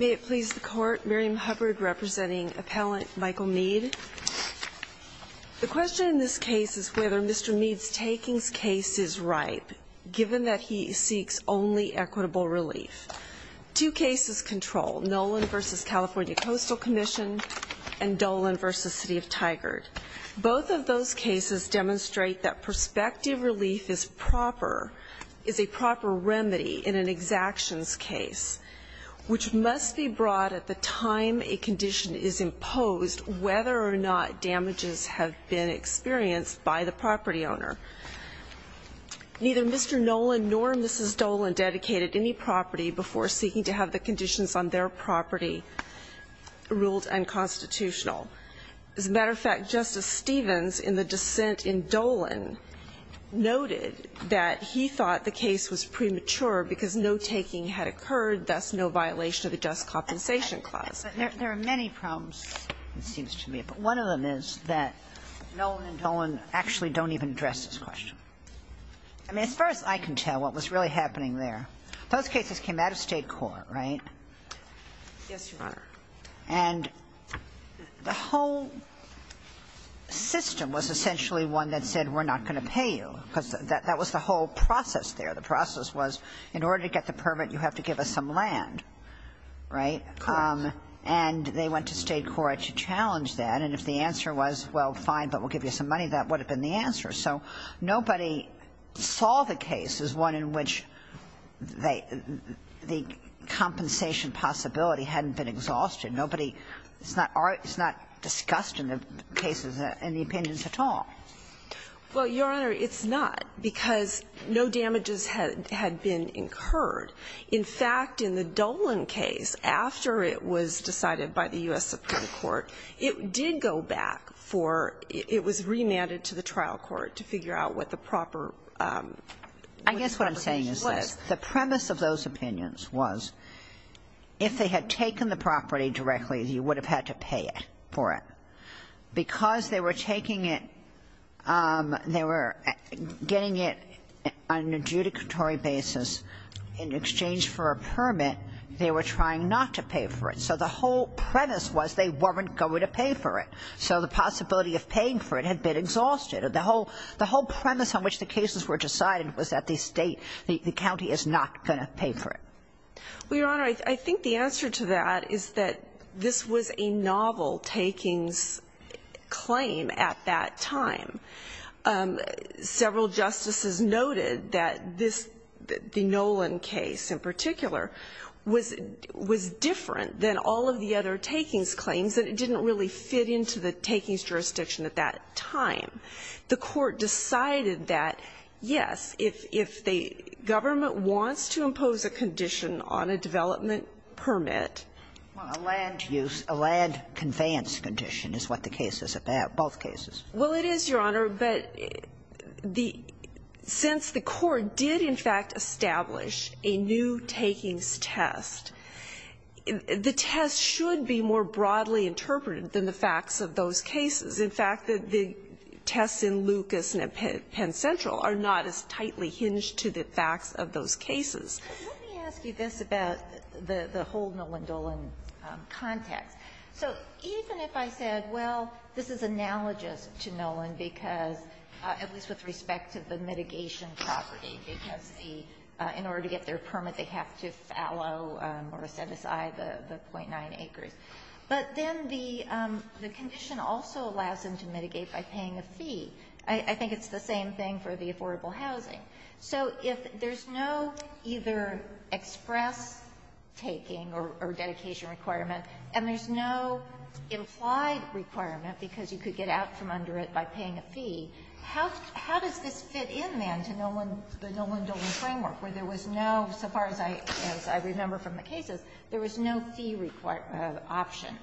May it please the Court, Miriam Hubbard representing Appellant Michael Mead. The question in this case is whether Mr. Mead's takings case is ripe, given that he seeks only equitable relief. Two cases control, Nolan v. California Coastal Commission and Dolan v. City of Tigard. Both of those cases demonstrate that prospective relief is a proper remedy in an exactions case, which must be brought at the time a condition is imposed, whether or not damages have been experienced by the property owner. Neither Mr. Nolan nor Mrs. Dolan dedicated any property before seeking to have the conditions on their property ruled unconstitutional. As a matter of fact, Justice Stevens, in the dissent in Dolan, noted that he thought the case was premature because no taking had occurred, thus no violation of the Just Compensation Clause. There are many problems, it seems to me, but one of them is that Nolan and Dolan actually don't even address this question. I mean, as far as I can tell, what was really happening there, those cases came out of State court, right? Yes, Your Honor. And the whole system was essentially one that said, we're not going to pay you, because that was the whole process there. The process was, in order to get the permit, you have to give us some land, right? Correct. And they went to State court to challenge that, and if the answer was, well, fine, but we'll give you some money, that would have been the answer. So nobody saw the case as one in which they, the compensation possibility hadn't been exhausted. Nobody, it's not discussed in the cases, in the opinions at all. Well, Your Honor, it's not, because no damages had been incurred. In fact, in the Dolan case, after it was decided by the U.S. Supreme Court, it did go back for, it was remanded to the trial court to figure out what the proper compensation was. I guess what I'm saying is this. The premise of those opinions was, if they had taken the property directly, you would have had to pay for it. Because they were taking it, they were getting it on an adjudicatory basis in exchange for a permit, they were trying not to pay for it. So the whole premise was they weren't going to pay for it. So the possibility of paying for it had been exhausted. The whole premise on which the cases were decided was that the state, the county is not going to pay for it. Well, Your Honor, I think the answer to that is that this was a novel takings claim at that time. Several justices noted that this, the Nolan case in particular, was different than all of the other takings claims and it didn't really fit into the takings jurisdiction at that time. The Court decided that, yes, if the government wants to impose a condition on a development permit. Well, a land use, a land conveyance condition is what the case is about, both cases. Well, it is, Your Honor, but since the Court did in fact establish a new takings test, the test should be more broadly interpreted than the facts of those cases. In fact, the tests in Lucas and at Penn Central are not as tightly hinged to the facts of those cases. Let me ask you this about the whole Nolan-Dolan context. So even if I said, well, this is analogous to Nolan because, at least with respect to the mitigation property, because in order to get their permit, they have to fallow or set aside the .9 acres. But then the condition also allows them to mitigate by paying a fee. I think it's the same thing for the affordable housing. So if there's no either express taking or dedication requirement, and there's no implied requirement because you could get out from under it by paying a fee, how does this fit in, then, to the Nolan-Dolan framework, where there was no, so far as I remember from the cases, there was no fee option?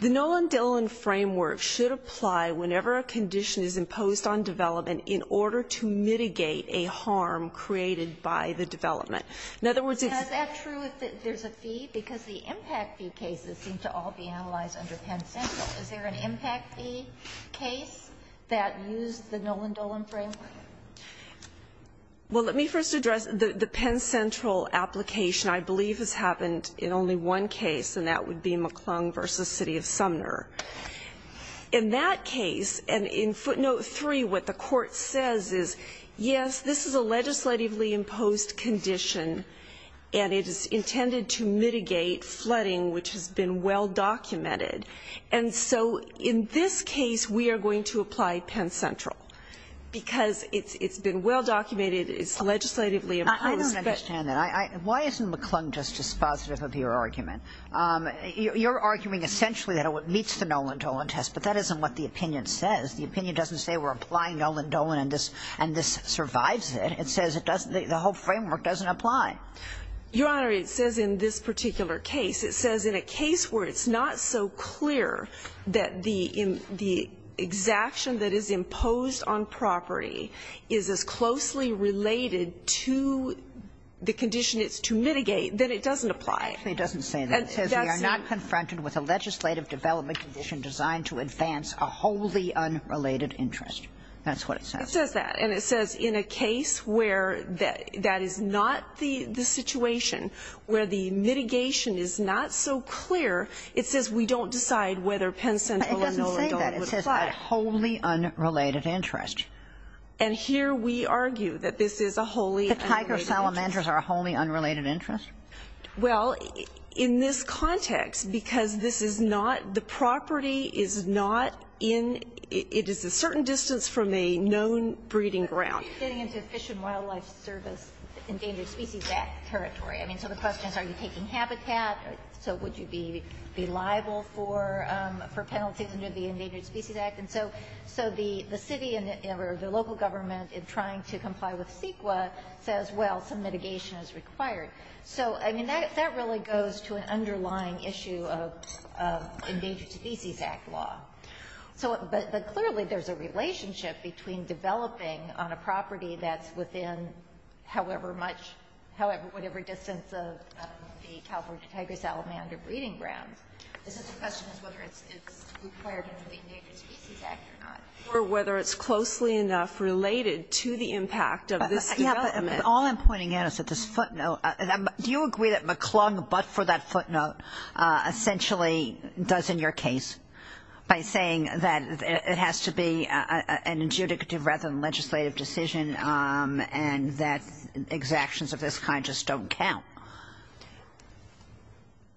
The Nolan-Dolan framework should apply whenever a condition is imposed on development in order to mitigate a harm created by the development. In other words, it's ---- Is that true if there's a fee? Because the impact fee cases seem to all be analyzed under Penn Central. Is there an impact fee case that used the Nolan-Dolan framework? Well, let me first address the Penn Central application. I believe this happened in only one case, and that would be McClung v. City of Sumner. In that case, and in footnote 3, what the court says is, yes, this is a legislatively imposed condition, and it is intended to mitigate flooding, which has been well documented. And so in this case, we are going to apply Penn Central, because it's been well documented, it's legislatively imposed. I don't understand that. Why isn't McClung just dispositive of your argument? You're arguing essentially that it meets the Nolan-Dolan test, but that isn't what the opinion says. The opinion doesn't say we're applying Nolan-Dolan and this survives it. It says the whole framework doesn't apply. Your Honor, it says in this particular case. It says in a case where it's not so clear that the exaction that is imposed on property is as closely related to the condition it's to mitigate, then it doesn't apply. It doesn't say that. It says we are not confronted with a legislative development condition designed to advance a wholly unrelated interest. That's what it says. It says that. And it says in a case where that is not the situation, where the mitigation is not so clear, it says we don't decide whether Penn Central and Nolan-Dolan would apply. It's a wholly unrelated interest. And here we argue that this is a wholly unrelated interest. The tiger salamanders are a wholly unrelated interest? Well, in this context, because this is not the property is not in, it is a certain distance from a known breeding ground. But you're getting into Fish and Wildlife Service, Endangered Species Act territory. I mean, so the question is are you taking habitat, so would you be liable for penalties under the Endangered Species Act? And so the city or the local government in trying to comply with CEQA says, well, some mitigation is required. So, I mean, that really goes to an underlying issue of Endangered Species Act law. But clearly there's a relationship between developing on a property that's within however much, whatever distance of the California tiger salamander breeding ground. So the question is whether it's required under the Endangered Species Act or not. Or whether it's closely enough related to the impact of this development. Yeah, but all I'm pointing out is that this footnote, do you agree that McClung but for that footnote essentially does in your case by saying that it has to be an adjudicative rather than legislative decision and that exactions of this kind just don't count?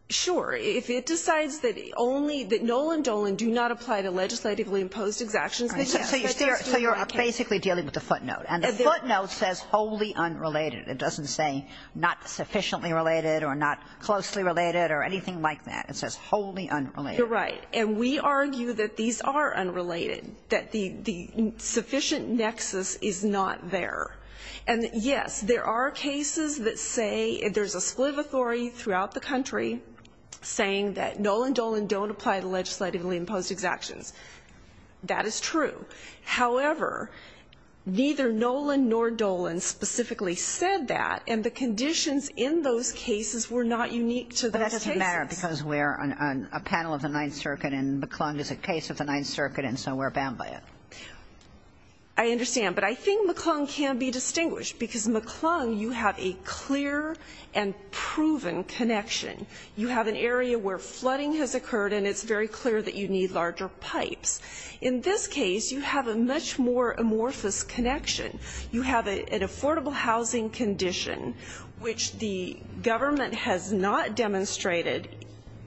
Sure. If it decides that only, that no and do not apply to legislatively imposed exactions. So you're basically dealing with the footnote. And the footnote says wholly unrelated. It doesn't say not sufficiently related or not closely related or anything like that. It says wholly unrelated. You're right. And we argue that these are unrelated. That the sufficient nexus is not there. And, yes, there are cases that say there's a split of authority throughout the country saying that no and do not apply to legislatively imposed exactions. That is true. However, neither Nolan nor Dolan specifically said that. And the conditions in those cases were not unique to those cases. But that doesn't matter because we're on a panel of the Ninth Circuit and McClung is a case of the Ninth Circuit and so we're bound by it. I understand. But I think McClung can be distinguished because McClung, you have a clear and proven connection. You have an area where flooding has occurred and it's very clear that you need larger pipes. In this case, you have a much more amorphous connection. You have an affordable housing condition which the government has not demonstrated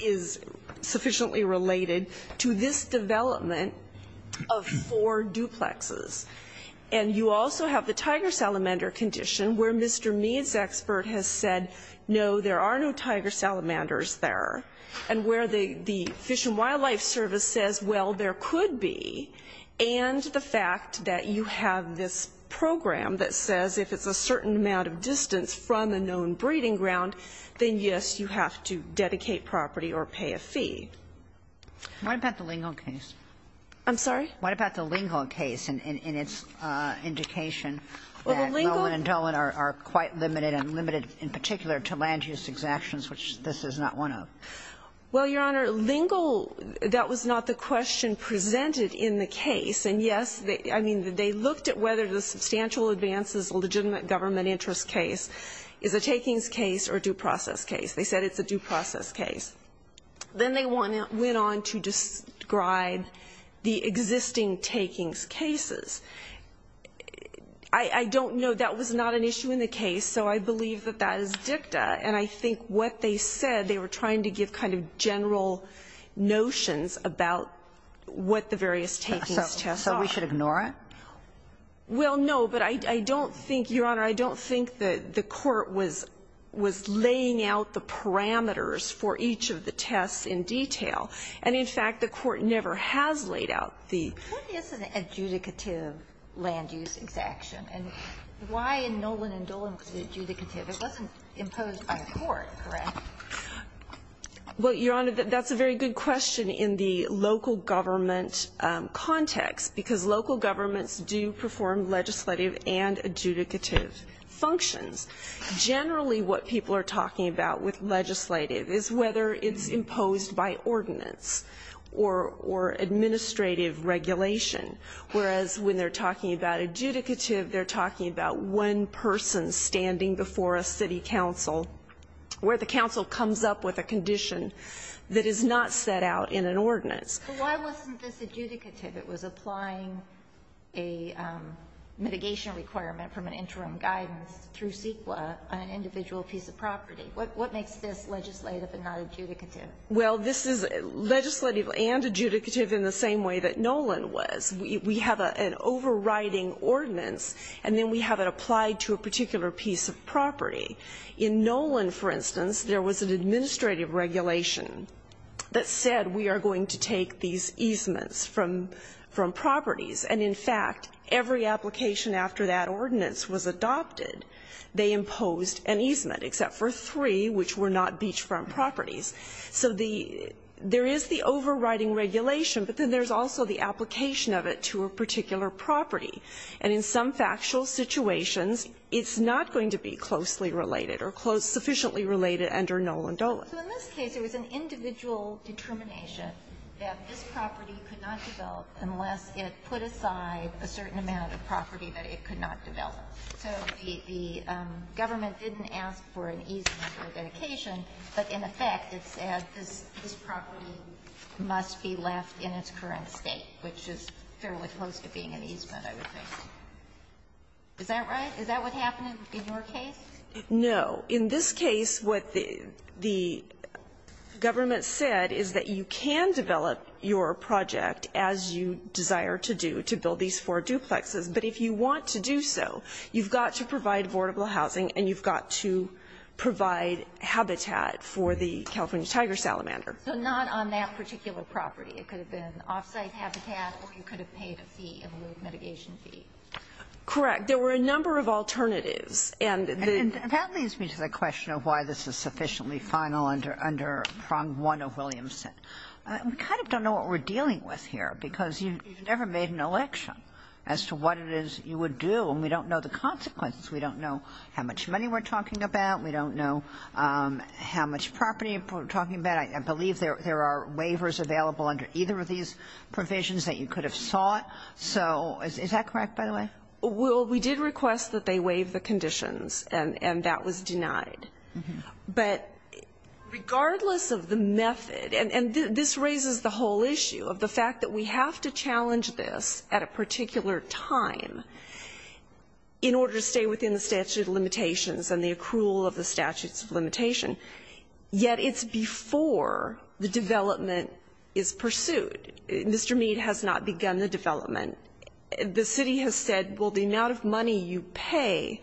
is sufficiently related to this development of four duplexes. And you also have the tiger salamander condition where Mr. Mead's expert has said, no, there are no tiger salamanders there. And where the Fish and Wildlife Service says, well, there could be. And the fact that you have this program that says if it's a certain amount of distance from a known breeding ground, then, yes, you have to dedicate property or pay a fee. What about the Lingon case? I'm sorry? What about the Lingon case and its indication that Nolan and Dolan are quite limited and limited in particular to land use exactions, which this is not one of? Well, Your Honor, Lingon, that was not the question presented in the case. And, yes, I mean, they looked at whether the substantial advances legitimate government interest case is a takings case or due process case. They said it's a due process case. Then they went on to describe the existing takings cases. I don't know. That was not an issue in the case. So I believe that that is dicta. And I think what they said, they were trying to give kind of general notions about what the various takings tests are. So we should ignore it? Well, no. But I don't think, Your Honor, I don't think that the court was laying out the parameters for each of the tests in detail. And, in fact, the court never has laid out the ---- What is an adjudicative land use exaction? And why in Nolan and Dolan was it adjudicative? It wasn't imposed by the court, correct? Well, Your Honor, that's a very good question in the local government context, because local governments do perform legislative and adjudicative functions. Generally, what people are talking about with legislative is whether it's imposed by ordinance or administrative regulation, whereas when they're talking about adjudicative, they're talking about one person standing before a city council, where the council comes up with a condition that is not set out in an ordinance. But why wasn't this adjudicative? It was applying a mitigation requirement from an interim guidance through CEQA on an individual piece of property. What makes this legislative and not adjudicative? Well, this is legislative and adjudicative in the same way that Nolan was. We have an overriding ordinance, and then we have it applied to a particular piece of property. In Nolan, for instance, there was an administrative regulation that said we are going to take these easements from properties. And in fact, every application after that ordinance was adopted, they imposed an easement except for three, which were not beachfront properties. So there is the overriding regulation, but then there's also the application of it to a particular property. And in some factual situations, it's not going to be closely related or sufficiently related under Nolan-Dolan. So in this case, it was an individual determination that this property could not develop unless it put aside a certain amount of property that it could not develop. So the government didn't ask for an easement for dedication, but in effect, it said this property must be left in its current state, which is fairly close to being an easement, I would think. Is that right? Is that what happened in your case? No. In this case, what the government said is that you can develop your project as you desire to do to build these four duplexes. But if you want to do so, you've got to provide affordable housing and you've got to provide habitat for the California tiger salamander. So not on that particular property. It could have been off-site habitat or you could have paid a fee, a mitigation fee. Correct. There were a number of alternatives. And that leads me to the question of why this is sufficiently final under Prong 1 of Williamson. We kind of don't know what we're dealing with here because you've never made an election as to what it is you would do, and we don't know the consequences. We don't know how much money we're talking about. We don't know how much property we're talking about. I believe there are waivers available under either of these provisions that you could have sought. So is that correct, by the way? Well, we did request that they waive the conditions, and that was denied. But regardless of the method, and this raises the whole issue of the fact that we have to challenge this at a particular time in order to stay within the statute of limitations and the accrual of the statute of limitations, yet it's before the development is pursued. Mr. Mead has not begun the development. The city has said, well, the amount of money you pay,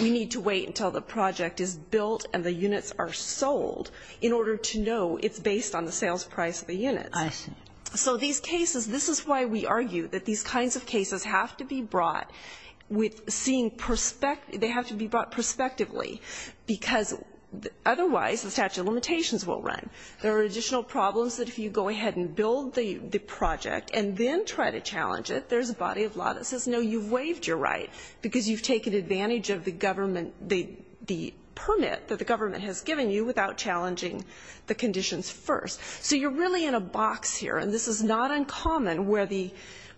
we need to wait until the project is built and the units are sold in order to know it's based on the sales price of the units. So these cases, this is why we argue that these kinds of cases have to be brought with seeing they have to be brought prospectively, because otherwise the statute of limitations will run. There are additional problems that if you go ahead and build the project and then you try to challenge it, there's a body of law that says, no, you've waived your right because you've taken advantage of the government, the permit that the government has given you without challenging the conditions first. So you're really in a box here, and this is not uncommon, where the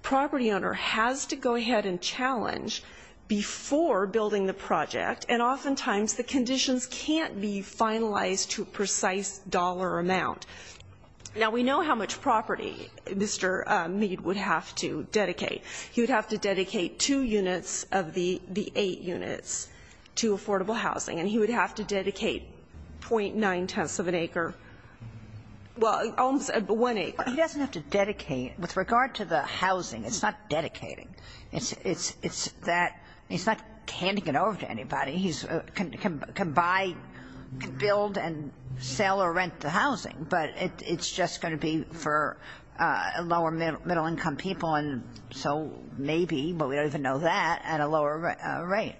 property owner has to go ahead and challenge before building the project, and oftentimes the conditions can't be finalized to a precise dollar amount. Now, we know how much property Mr. Mead would have to dedicate. He would have to dedicate two units of the eight units to affordable housing, and he would have to dedicate .9 tenths of an acre, well, almost one acre. He doesn't have to dedicate. With regard to the housing, it's not dedicating. He can buy, build and sell or rent the housing, but it's just going to be for lower middle income people, and so maybe, but we don't even know that, at a lower rate.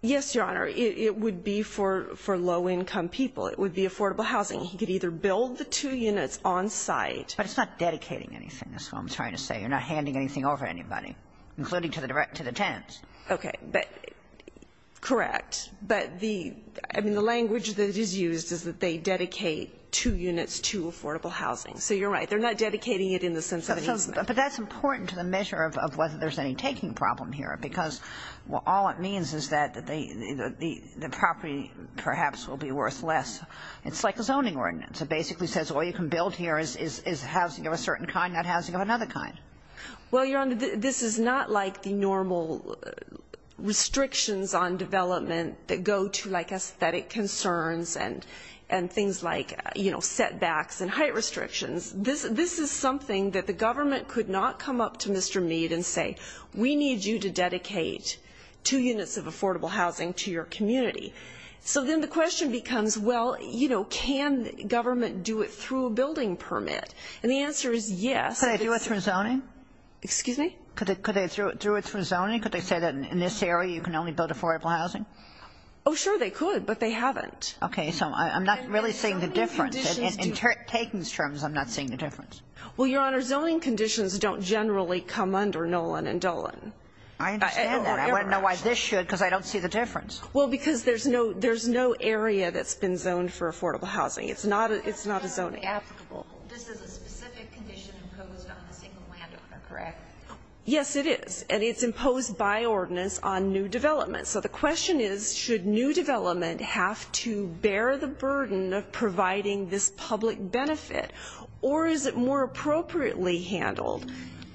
Yes, Your Honor. It would be for low income people. It would be affordable housing. He could either build the two units on site. But it's not dedicating anything, is what I'm trying to say. You're not handing anything over to anybody, including to the tenants. Okay. Correct. But the, I mean, the language that is used is that they dedicate two units to affordable housing. So you're right. They're not dedicating it in the sense of an easement. But that's important to the measure of whether there's any taking problem here, because all it means is that the property perhaps will be worth less. It's like a zoning ordinance. It basically says all you can build here is housing of a certain kind, not housing of another kind. Well, Your Honor, this is not like the normal restrictions on development that go to, like, aesthetic concerns and things like, you know, setbacks and height restrictions. This is something that the government could not come up to Mr. Meade and say, we need you to dedicate two units of affordable housing to your community. So then the question becomes, well, you know, can government do it through a building permit? And the answer is yes. Could they do it through zoning? Excuse me? Could they do it through zoning? Could they say that in this area you can only build affordable housing? Oh, sure they could. But they haven't. Okay. So I'm not really seeing the difference. In Taken's terms, I'm not seeing the difference. Well, Your Honor, zoning conditions don't generally come under Nolan and Dolan. I understand that. I want to know why this should, because I don't see the difference. Well, because there's no area that's been zoned for affordable housing. It's not a zoning. This is a specific condition imposed on a single landowner, correct? Yes, it is. And it's imposed by ordinance on new development. So the question is, should new development have to bear the burden of providing this public benefit? Or is it more appropriately handled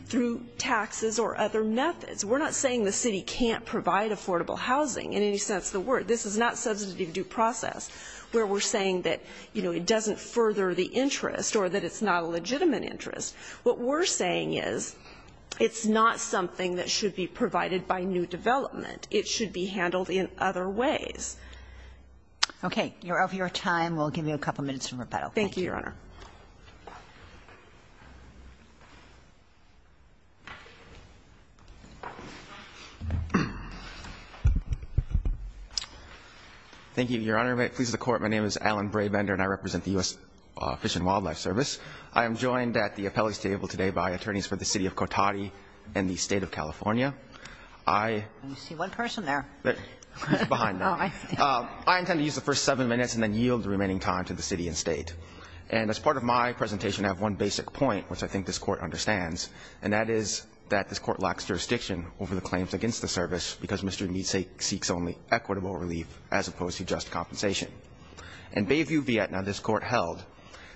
through taxes or other methods? We're not saying the city can't provide affordable housing in any sense of the word. This is not substantive due process where we're saying that, you know, it doesn't further the interest or that it's not a legitimate interest. What we're saying is it's not something that should be provided by new development. It should be handled in other ways. Okay. You're over your time. We'll give you a couple minutes for rebuttal. Thank you. Thank you, Your Honor. Thank you, Your Honor. If it pleases the Court, my name is Alan Brabender and I represent the U.S. Fish and Wildlife Service. I am joined at the appellate table today by attorneys for the City of Cotati and the State of California. I see one person there. He's behind me. I intend to use the first seven minutes and then yield the remaining time to the city and State. And as part of my presentation, I have one basic point which I think this Court understands, and that is that this Court lacks jurisdiction over the claims against the service because Mr. Ymise seeks only equitable relief as opposed to just compensation. In Bayview, Vietnam, this Court held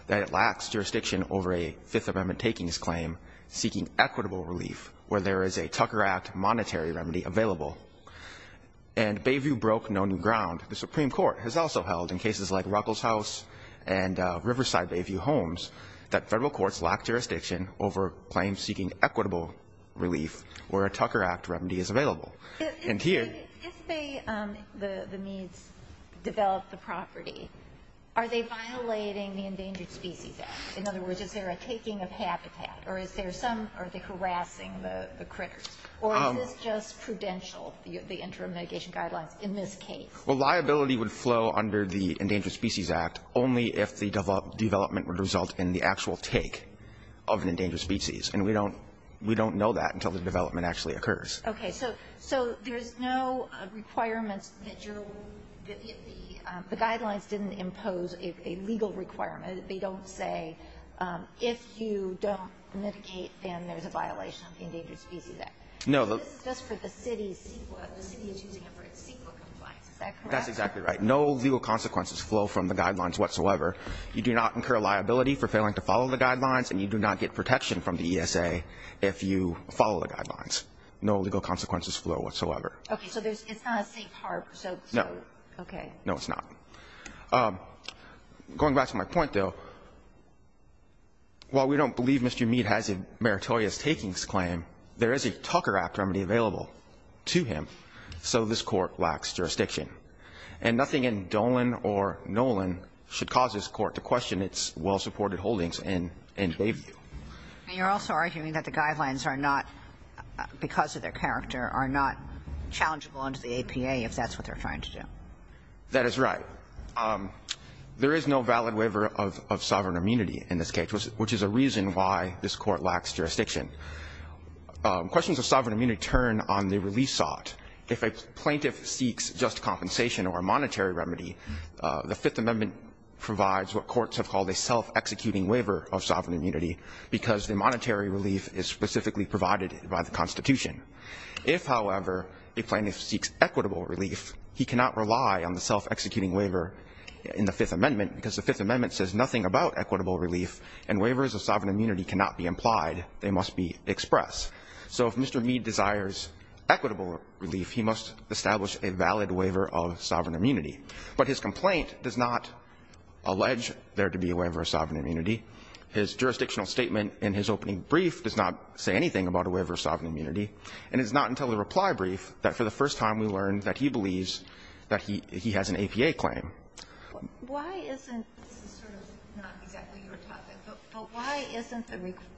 that it lacks jurisdiction over a Fifth Amendment takings claim seeking equitable relief where there is a Tucker Act monetary remedy available. And Bayview broke no new ground. The Supreme Court has also held in cases like Ruckelshaus and Riverside Bayview homes that Federal courts lack jurisdiction over claims seeking equitable relief where a Tucker Act remedy is available. And here If they, the Meads, develop the property, are they violating the Endangered Species Act? In other words, is there a taking of habitat, or is there some, are they harassing the critters? Or is this just prudential, the interim mitigation guidelines in this case? Well, liability would flow under the Endangered Species Act only if the development would result in the actual take of an endangered species. And we don't know that until the development actually occurs. Okay. So there's no requirements that the guidelines didn't impose a legal requirement. They don't say if you don't mitigate, then there's a violation of the Endangered Species Act. This is just for the city's CEQA. The city is using it for its CEQA compliance. Is that correct? That's exactly right. No legal consequences flow from the guidelines whatsoever. You do not incur liability for failing to follow the guidelines, and you do not get protection from the ESA if you follow the guidelines. No legal consequences flow whatsoever. Okay. So it's not a safe harbor. No. Okay. No, it's not. Going back to my point, though, while we don't believe Mr. Mead has a meritorious takings claim, there is a Tucker Act remedy available to him, so this Court lacks jurisdiction. And nothing in Dolan or Nolan should cause this Court to question its well-supported holdings in Bayview. And you're also arguing that the guidelines are not, because of their character, are not challengeable under the APA if that's what they're trying to do. That is right. There is no valid waiver of sovereign immunity in this case, which is a reason why this Court lacks jurisdiction. Questions of sovereign immunity turn on the release sought. If a plaintiff seeks just compensation or a monetary remedy, the Fifth Amendment provides what courts have called a self-executing waiver of sovereign immunity because the monetary relief is specifically provided by the Constitution. If, however, a plaintiff seeks equitable relief, he cannot rely on the self-executing waiver in the Fifth Amendment because the Fifth Amendment says nothing about equitable relief, and waivers of sovereign immunity cannot be implied. They must be expressed. So if Mr. Mead desires equitable relief, he must establish a valid waiver of sovereign immunity. But his complaint does not allege there to be a waiver of sovereign immunity. His jurisdictional statement in his opening brief does not say anything about a waiver of sovereign immunity. And it's not until the reply brief that, for the first time, we learn that he believes that he has an APA claim. Why isn't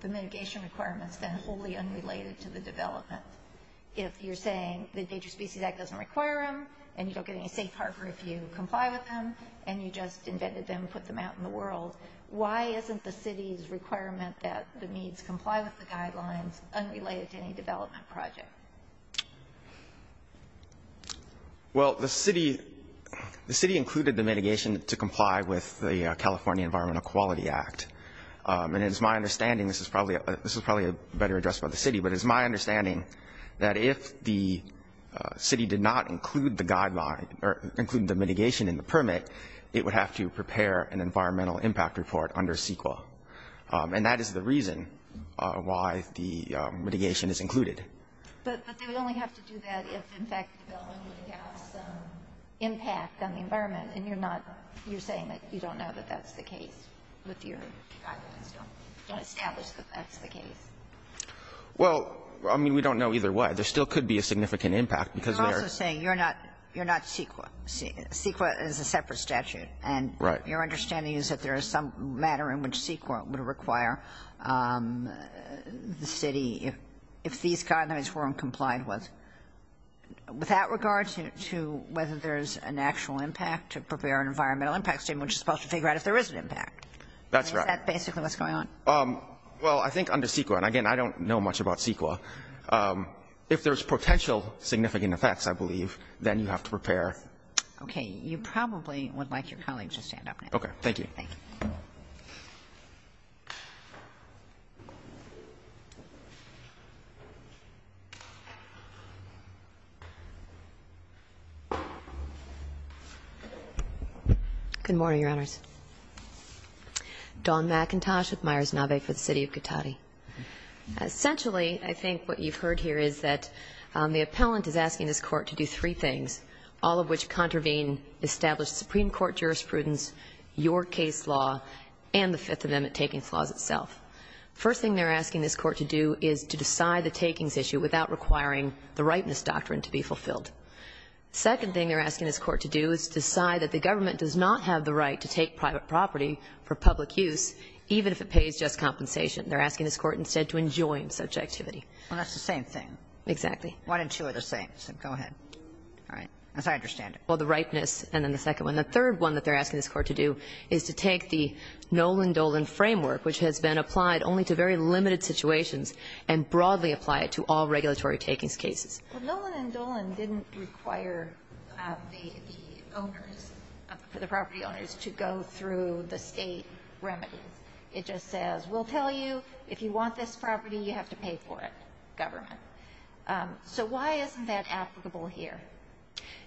the mitigation requirements then wholly unrelated to the development if you're saying the Endangered Species Act doesn't require them and you don't get any safe harbor if you comply with them and you just invented them and put them out in the world? Why isn't the city's requirement that the Meads comply with the guidelines unrelated to any development project? Well, the city included the mitigation to comply with the California Environmental Quality Act. And it is my understanding, this is probably a better address by the city, but it is if the city did not include the guideline or include the mitigation in the permit, it would have to prepare an environmental impact report under CEQA. And that is the reason why the mitigation is included. But they would only have to do that if, in fact, the development would have some impact on the environment, and you're not you're saying that you don't know that that's the case with your guidelines. You don't establish that that's the case. Well, I mean, we don't know either way. There still could be a significant impact because they are saying you're not you're not CEQA. CEQA is a separate statute. And your understanding is that there is some matter in which CEQA would require the city if these guidelines weren't complied with. With that regard to whether there's an actual impact to prepare an environmental impact statement, which is supposed to figure out if there is an impact. That's right. That's basically what's going on. Well, I think under CEQA, and again, I don't know much about CEQA. If there's potential significant effects, I believe, then you have to prepare. Okay. You probably would like your colleague to stand up now. Okay. Thank you. Thank you. Good morning, Your Honors. Dawn McIntosh with Myers-Navet for the City of Cotati. Essentially, I think what you've heard here is that the appellant is asking this court to do three things, all of which contravene established Supreme Court jurisprudence, your case law, and the Fifth Amendment takings laws itself. First thing they're asking this court to do is to decide the takings issue without requiring the rightness doctrine to be fulfilled. Second thing they're asking this court to do is decide that the government does not have the right to take private property for public use, even if it pays just compensation. They're asking this court instead to enjoin such activity. Well, that's the same thing. Exactly. One and two are the same. So go ahead. All right. As I understand it. Well, the rightness and then the second one. The third one that they're asking this court to do is to take the Nolan-Dolan framework, which has been applied only to very limited situations, and broadly apply it to all regulatory takings cases. Well, Nolan and Dolan didn't require the owners, the property owners, to go through the State remedies. It just says, we'll tell you if you want this property, you have to pay for it. Government. So why isn't that applicable here?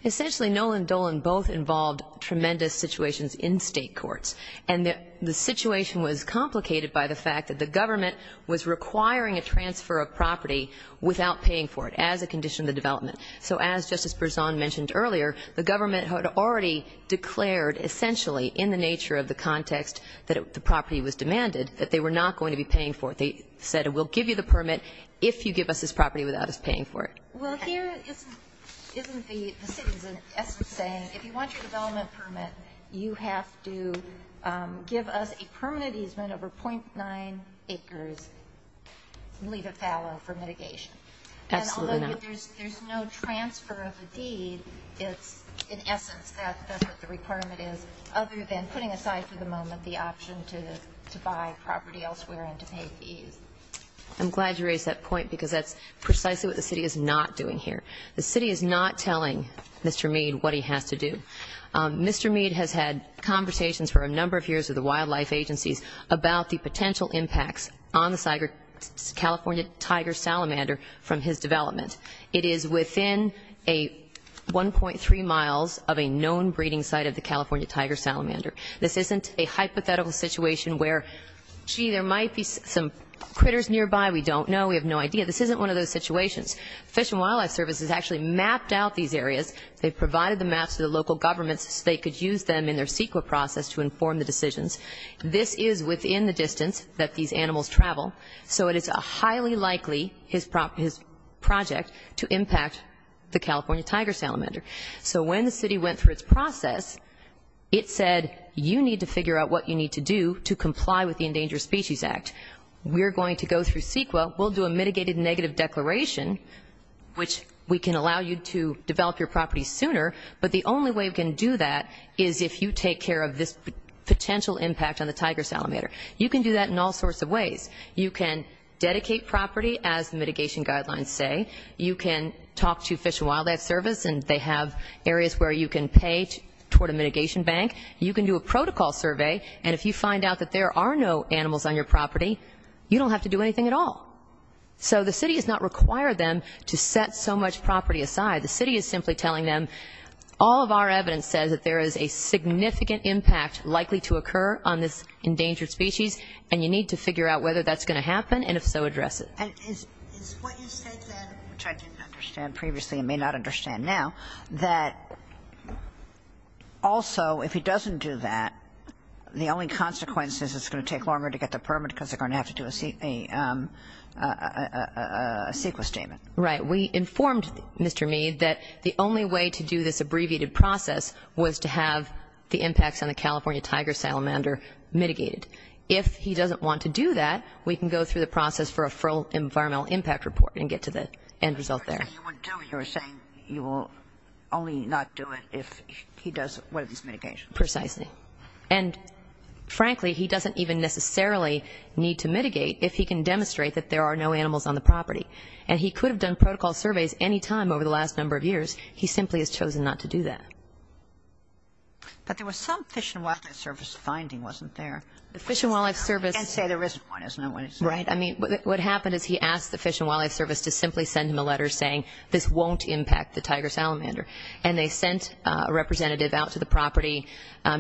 Essentially, Nolan and Dolan both involved tremendous situations in State courts. And the situation was complicated by the fact that the government was requiring a transfer of property without paying for it as a condition of the development. So as Justice Berzon mentioned earlier, the government had already declared essentially in the nature of the context that the property was demanded, that they were not going to be paying for it. They said, we'll give you the permit if you give us this property without us paying for it. Well, here isn't the city's essence saying, if you want your development permit, you have to give us a permanent easement over .9 acres and leave it fallow for mitigation. Absolutely not. And although there's no transfer of a deed, it's in essence that's what the requirement is other than putting aside for the moment the option to buy property elsewhere and to pay fees. I'm glad you raised that point because that's precisely what the city is not doing here. The city is not telling Mr. Meade what he has to do. Mr. Meade has had conversations for a number of years with the wildlife agencies about the potential impacts on the California tiger salamander from his development. It is within a 1.3 miles of a known breeding site of the California tiger salamander. This isn't a hypothetical situation where, gee, there might be some critters nearby. We don't know. We have no idea. This isn't one of those situations. Fish and Wildlife Service has actually mapped out these areas. They've provided the maps to the local governments so they could use them in their CEQA process to inform the decisions. This is within the distance that these animals travel. So it is highly likely his project to impact the California tiger salamander. So when the city went through its process, it said you need to figure out what you need to do to comply with the Endangered Species Act. We're going to go through CEQA. We'll do a mitigated negative declaration, which we can allow you to develop your property sooner, but the only way we can do that is if you take care of this potential impact on the tiger salamander. You can do that in all sorts of ways. You can dedicate property, as the mitigation guidelines say. You can talk to Fish and Wildlife Service, and they have areas where you can pay toward a mitigation bank. You can do a protocol survey, and if you find out that there are no animals on your property, you don't have to do anything at all. So the city has not required them to set so much property aside. The city is simply telling them all of our evidence says that there is a significant impact likely to occur on this endangered species, and you need to figure out whether that's going to happen, and if so, address it. And is what you said then, which I didn't understand previously and may not understand now, that also if he doesn't do that, the only consequence is it's going to take longer to get the permit because they're going to have to do a CEQA statement? Right. We informed Mr. Meade that the only way to do this abbreviated process was to have the impacts on the California tiger salamander mitigated. If he doesn't want to do that, we can go through the process for a full environmental impact report and get to the end result there. The first thing you would do, you're saying you will only not do it if he does one of these mitigations. Precisely. And frankly, he doesn't even necessarily need to mitigate if he can demonstrate that there are no animals on the property. And he could have done protocol surveys any time over the last number of years. He simply has chosen not to do that. But there was some Fish and Wildlife Service finding wasn't there. The Fish and Wildlife Service. And say the risk point is not what he said. Right. I mean, what happened is he asked the Fish and Wildlife Service to simply send him a letter saying this won't impact the tiger salamander. And they sent a representative out to the property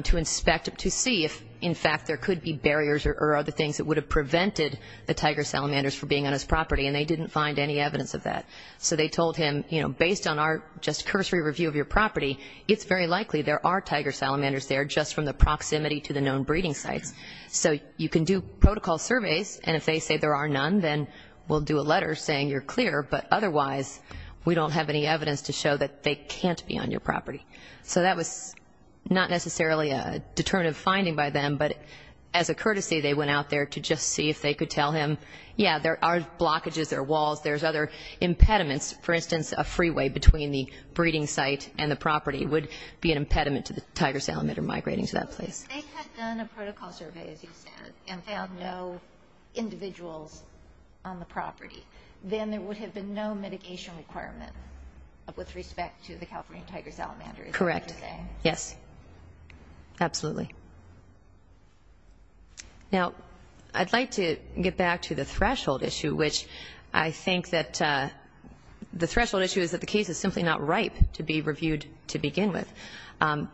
to inspect, to see if, in fact, there could be barriers or other things that would have prevented the tiger salamanders from being on his property. And they didn't find any evidence of that. So they told him, you know, based on our just cursory review of your property, it's very likely there are tiger salamanders there just from the proximity to the known breeding sites. So you can do protocol surveys. And if they say there are none, then we'll do a letter saying you're clear. But otherwise, we don't have any evidence to show that they can't be on your property. So that was not necessarily a determinative finding by them. But as a courtesy, they went out there to just see if they could tell him, yeah, there are blockages, there are walls, there's other impediments. For instance, a freeway between the breeding site and the property would be an impediment to the tiger salamander migrating to that place. If they had done a protocol survey, as you said, and found no individuals on the property, then there would have been no mitigation requirement with respect to the California tiger salamander. Correct. Yes. Absolutely. Now, I'd like to get back to the threshold issue, which I think that the threshold issue is that the case is simply not ripe to be reviewed to begin with.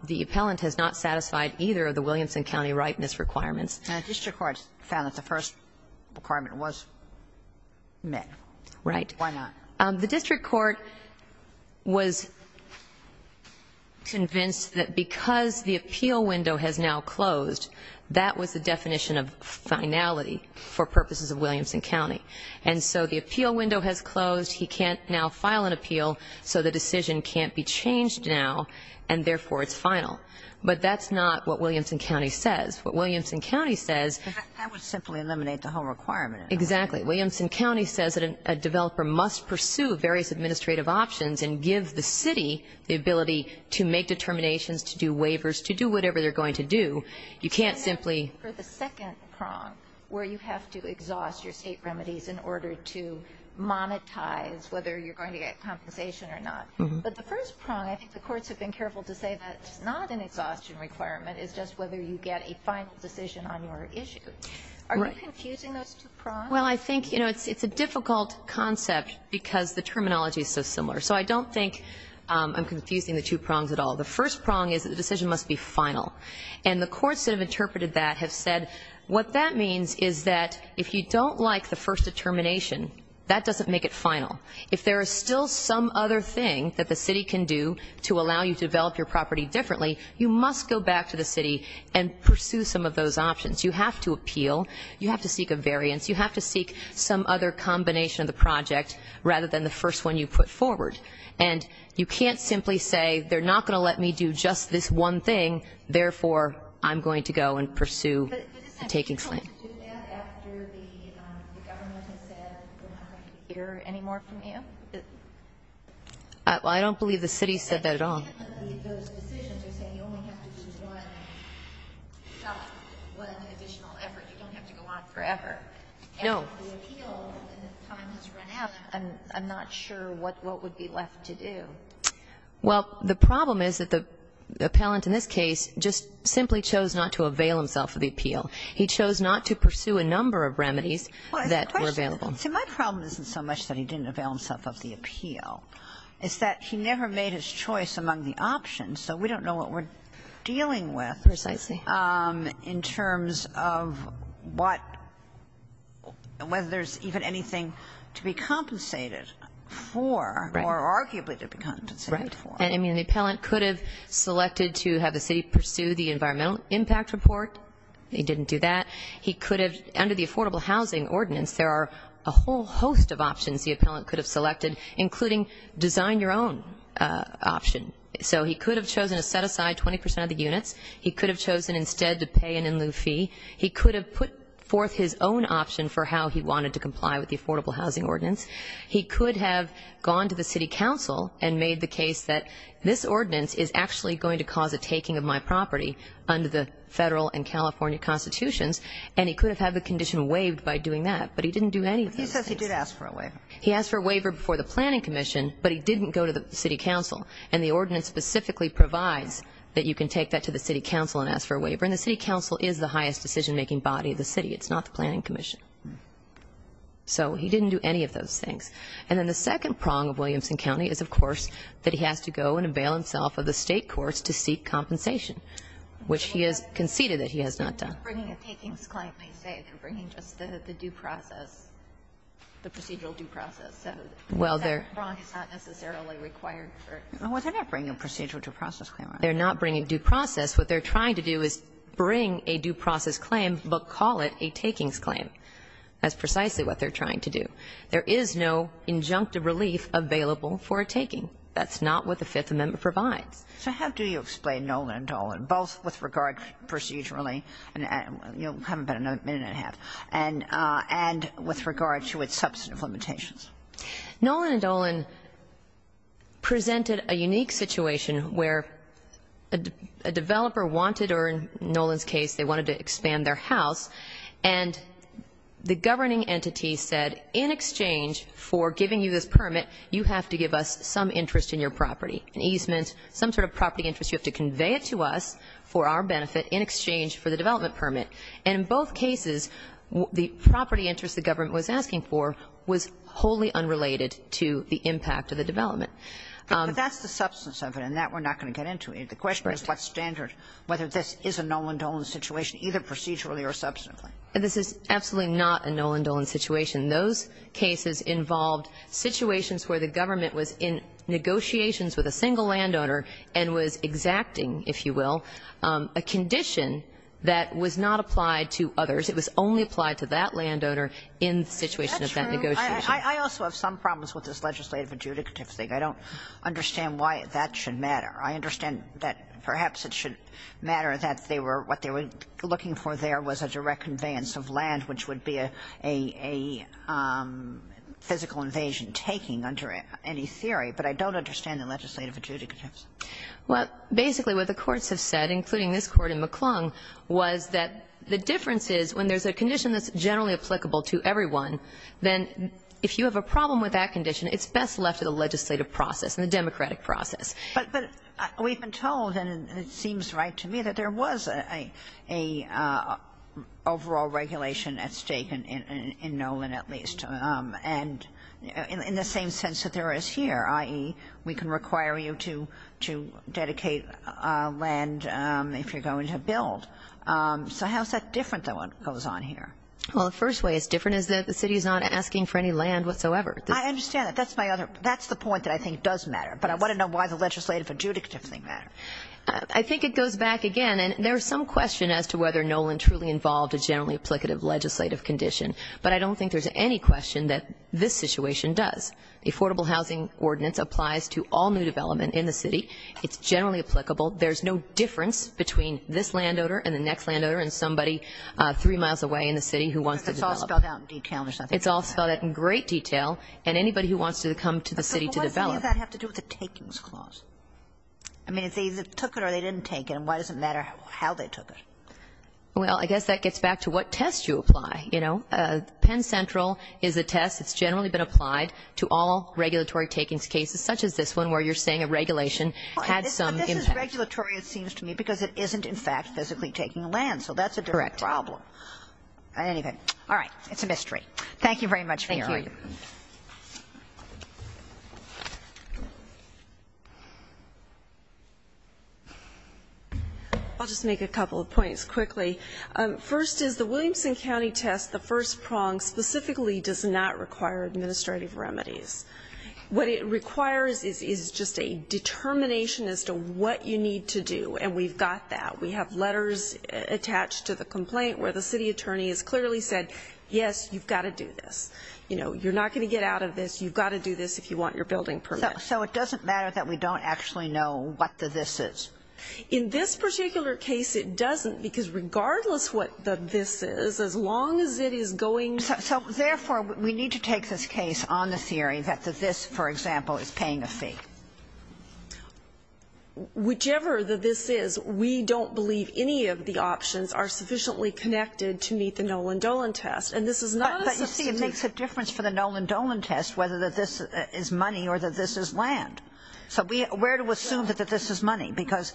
The appellant has not satisfied either of the Williamson County ripeness requirements. And the district court found that the first requirement was met. Right. Why not? The district court was convinced that because the appeal window has now closed, that was the definition of finality for purposes of Williamson County. And so the appeal window has closed. He can't now file an appeal, so the decision can't be changed now. And, therefore, it's final. But that's not what Williamson County says. What Williamson County says. That would simply eliminate the whole requirement. Exactly. Williamson County says that a developer must pursue various administrative options and give the city the ability to make determinations, to do waivers, to do whatever they're going to do. You can't simply. For the second prong, where you have to exhaust your state remedies in order to monetize whether you're going to get compensation or not. But the first prong, I think the courts have been careful to say that it's not an exhaustion requirement. It's just whether you get a final decision on your issue. Are you confusing those two prongs? Well, I think, you know, it's a difficult concept because the terminology is so similar. So I don't think I'm confusing the two prongs at all. The first prong is that the decision must be final. And the courts that have interpreted that have said what that means is that if you don't like the first determination, that doesn't make it final. If there is still some other thing that the city can do to allow you to develop your property differently, you must go back to the city and pursue some of those options. You have to appeal. You have to seek a variance. You have to seek some other combination of the project rather than the first one you put forward. And you can't simply say they're not going to let me do just this one thing, therefore I'm going to go and pursue a taking claim. Well, I don't believe the city said that at all. No. Well, the problem is that the appellant in this case just simply chose not to avail himself of the appeal. He chose not to pursue a number of remedies that were available. See, my problem isn't so much that he didn't avail himself of the appeal. It's that he never made his choice among the options, so we don't know what we're dealing with in terms of what, whether there's even anything to be compensated for or arguably to be compensated for. Right. I mean, the appellant could have selected to have the city pursue the environmental impact report. He didn't do that. He could have, under the affordable housing ordinance, there are a whole host of options the appellant could have selected, including design your own option. So he could have chosen to set aside 20 percent of the units. He could have chosen instead to pay an in lieu fee. He could have put forth his own option for how he wanted to comply with the affordable housing ordinance. He could have gone to the city council and made the case that this ordinance is actually going to cause a taking of my property under the federal and California constitutions. And he could have had the condition waived by doing that, but he didn't do any of those things. He says he did ask for a waiver. He asked for a waiver before the planning commission, but he didn't go to the city council. And the ordinance specifically provides that you can take that to the city council and ask for a waiver. And the city council is the highest decision-making body of the city. It's not the planning commission. So he didn't do any of those things. And then the second prong of Williamson County is, of course, that he has to go and avail himself of the State courts to seek compensation, which he has conceded that he has not done. They're not bringing a takings claim per se. They're bringing just the due process, the procedural due process. So that prong is not necessarily required. Well, they're not bringing a procedural due process claim. They're not bringing a due process. What they're trying to do is bring a due process claim but call it a takings claim. That's precisely what they're trying to do. There is no injunctive relief available for a taking. That's not what the Fifth Amendment provides. So how do you explain Nolan and Dolan, both with regard to procedurally and, you know, having been a minute and a half, and with regard to its substantive limitations? Nolan and Dolan presented a unique situation where a developer wanted or, in Nolan's case, they wanted to expand their house. And the governing entity said, in exchange for giving you this permit, you have to give us some interest in your property, an easement, some sort of property interest, you have to convey it to us for our benefit in exchange for the development permit. And in both cases, the property interest the government was asking for was wholly unrelated to the impact of the development. But that's the substance of it, and that we're not going to get into. The question is what standard, whether this is a Nolan-Dolan situation, either procedurally or substantively. This is absolutely not a Nolan-Dolan situation. Those cases involved situations where the government was in negotiations with a single landowner and was exacting, if you will, a condition that was not applied to others. It was only applied to that landowner in the situation of that negotiation. That's true. I also have some problems with this legislative adjudicative thing. I don't understand why that should matter. I understand that perhaps it should matter that they were, what they were looking for there was a direct conveyance of land, which would be a physical invasion taking under any theory. But I don't understand the legislative adjudicatives. Well, basically what the courts have said, including this Court in McClung, was that the difference is when there's a condition that's generally applicable to everyone, then if you have a problem with that condition, it's best left to the legislative process and the democratic process. But we've been told, and it seems right to me, that there was a overall regulation at stake in Nolan, at least, and in the same sense that there is here, i.e., we can require you to dedicate land if you're going to build. So how is that different, though, what goes on here? Well, the first way it's different is that the city is not asking for any land whatsoever. I understand that. That's the point that I think does matter. But I want to know why the legislative adjudicatives matter. I think it goes back again, and there is some question as to whether Nolan truly involved a generally applicative legislative condition. But I don't think there's any question that this situation does. The Affordable Housing Ordinance applies to all new development in the city. It's generally applicable. There's no difference between this landowner and the next landowner and somebody three miles away in the city who wants to develop. It's all spelled out in detail or something. It's all spelled out in great detail, and anybody who wants to come to the city to develop. Why does that have to do with the takings clause? I mean, if they took it or they didn't take it, why does it matter how they took it? Well, I guess that gets back to what test you apply, you know. Penn Central is a test that's generally been applied to all regulatory takings cases, such as this one, where you're saying a regulation had some impact. But this is regulatory, it seems to me, because it isn't, in fact, physically taking land. So that's a different problem. Correct. Anyway. All right. It's a mystery. Thank you very much for your argument. Thank you. I'll just make a couple of points quickly. First is the Williamson County test, the first prong, specifically does not require administrative remedies. What it requires is just a determination as to what you need to do, and we've got that. We have letters attached to the complaint where the city attorney has clearly said, yes, you've got to do this. You know, you're not going to get out of this. You've got to do this if you want your building permit. So it doesn't matter that we don't actually know what the this is? In this particular case, it doesn't, because regardless what the this is, as long as it is going to be... So therefore, we need to take this case on the theory that the this, for example, is paying a fee. Whichever the this is, we don't believe any of the options are sufficiently connected to meet the Nolan Dolan test. And this is not a substantive... But, you see, it makes a difference for the Nolan Dolan test whether this is money or that this is land. So we're to assume that this is money, because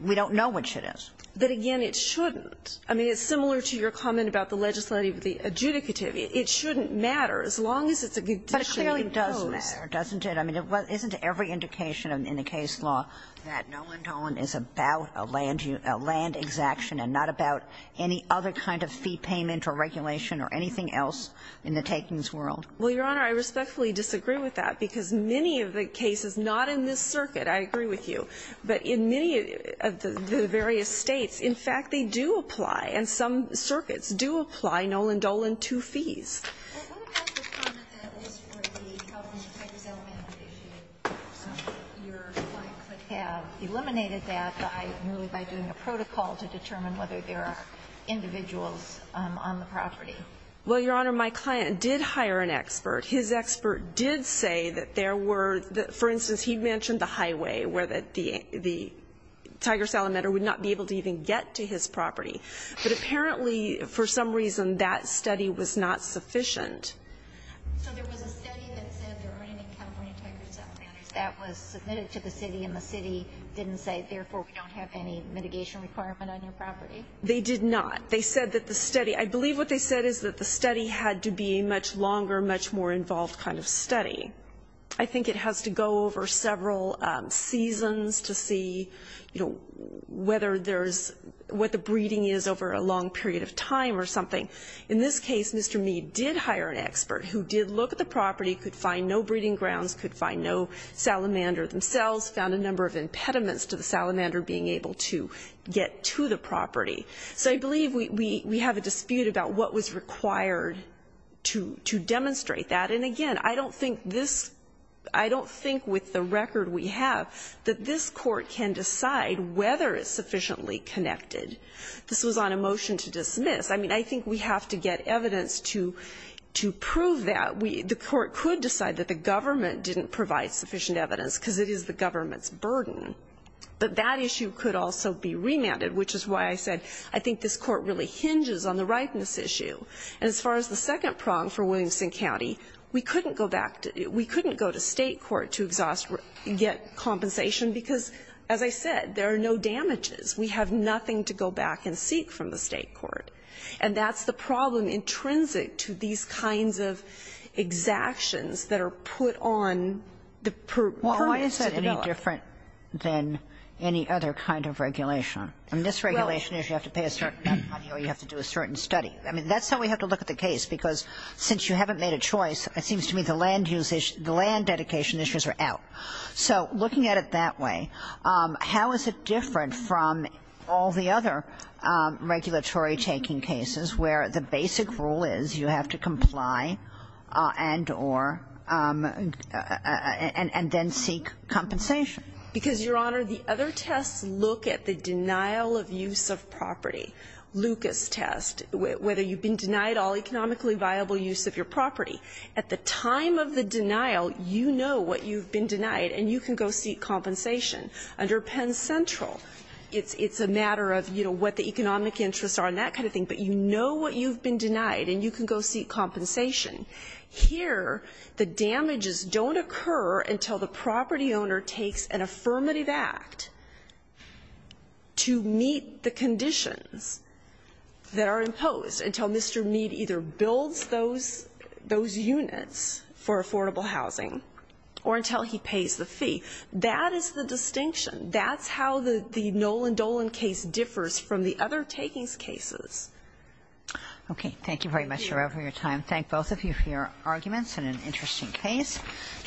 we don't know which it is. But, again, it shouldn't. I mean, it's similar to your comment about the legislative, the adjudicative. It shouldn't matter, as long as it's a good decision. But it clearly does matter, doesn't it? I mean, isn't every indication in the case law that Nolan Dolan is about a land exaction and not about any other kind of fee payment or regulation or anything else in the takings world? Well, Your Honor, I respectfully disagree with that, because many of the cases not in this circuit, I agree with you, but in many of the various States, in fact, they do apply, and some circuits do apply Nolan Dolan to fees. Well, what about the comment that is for the California Tigers Alameda case? Your client could have eliminated that by doing a protocol to determine whether there are individuals on the property. Well, Your Honor, my client did hire an expert. His expert did say that there were, for instance, he mentioned the highway, where the Tigers Alameda would not be able to even get to his property. But apparently, for some reason, that study was not sufficient. So there was a study that said there weren't any California Tigers Alamedas that was submitted to the city, and the city didn't say, therefore we don't have any mitigation requirement on your property? They did not. They said that the study – I believe what they said is that the study had to be a much longer, much more involved kind of study. I think it has to go over several seasons to see, you know, whether there's – what the breeding is over a long period of time or something. In this case, Mr. Meade did hire an expert who did look at the property, could find no breeding grounds, could find no salamander themselves, found a number of impediments to the salamander being able to get to the property. So I believe we have a dispute about what was required to demonstrate that. And, again, I don't think this – I don't think with the record we have that this whether it's sufficiently connected. This was on a motion to dismiss. I mean, I think we have to get evidence to prove that. The court could decide that the government didn't provide sufficient evidence because it is the government's burden, but that issue could also be remanded, which is why I said I think this court really hinges on the ripeness issue. And as far as the second prong for Williamson County, we couldn't go back to – we couldn't go to State court to exhaust – get compensation because, as I said, there are no damages. We have nothing to go back and seek from the State court. And that's the problem intrinsic to these kinds of exactions that are put on the permits to develop. Well, why is that any different than any other kind of regulation? I mean, this regulation is you have to pay a certain amount of money or you have to do a certain study. I mean, that's how we have to look at the case, because since you haven't made a choice, it seems to me the land use – the land dedication issues are out. So looking at it that way, how is it different from all the other regulatory taking cases where the basic rule is you have to comply and or – and then seek compensation? Because, Your Honor, the other tests look at the denial of use of property, Lucas test, whether you've been denied all economically viable use of your property. At the time of the denial, you know what you've been denied and you can go seek compensation. Under Penn Central, it's a matter of, you know, what the economic interests are and that kind of thing, but you know what you've been denied and you can go seek compensation. Here, the damages don't occur until the property owner takes an affirmative act to meet the conditions that are imposed, until Mr. Meade either builds those units for affordable housing or until he pays the fee. That is the distinction. That's how the Nolan Dolan case differs from the other takings cases. Thank you very much, Your Honor, for your time. Thank both of you for your arguments and an interesting case.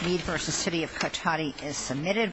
Meade v. City of Cotati is submitted.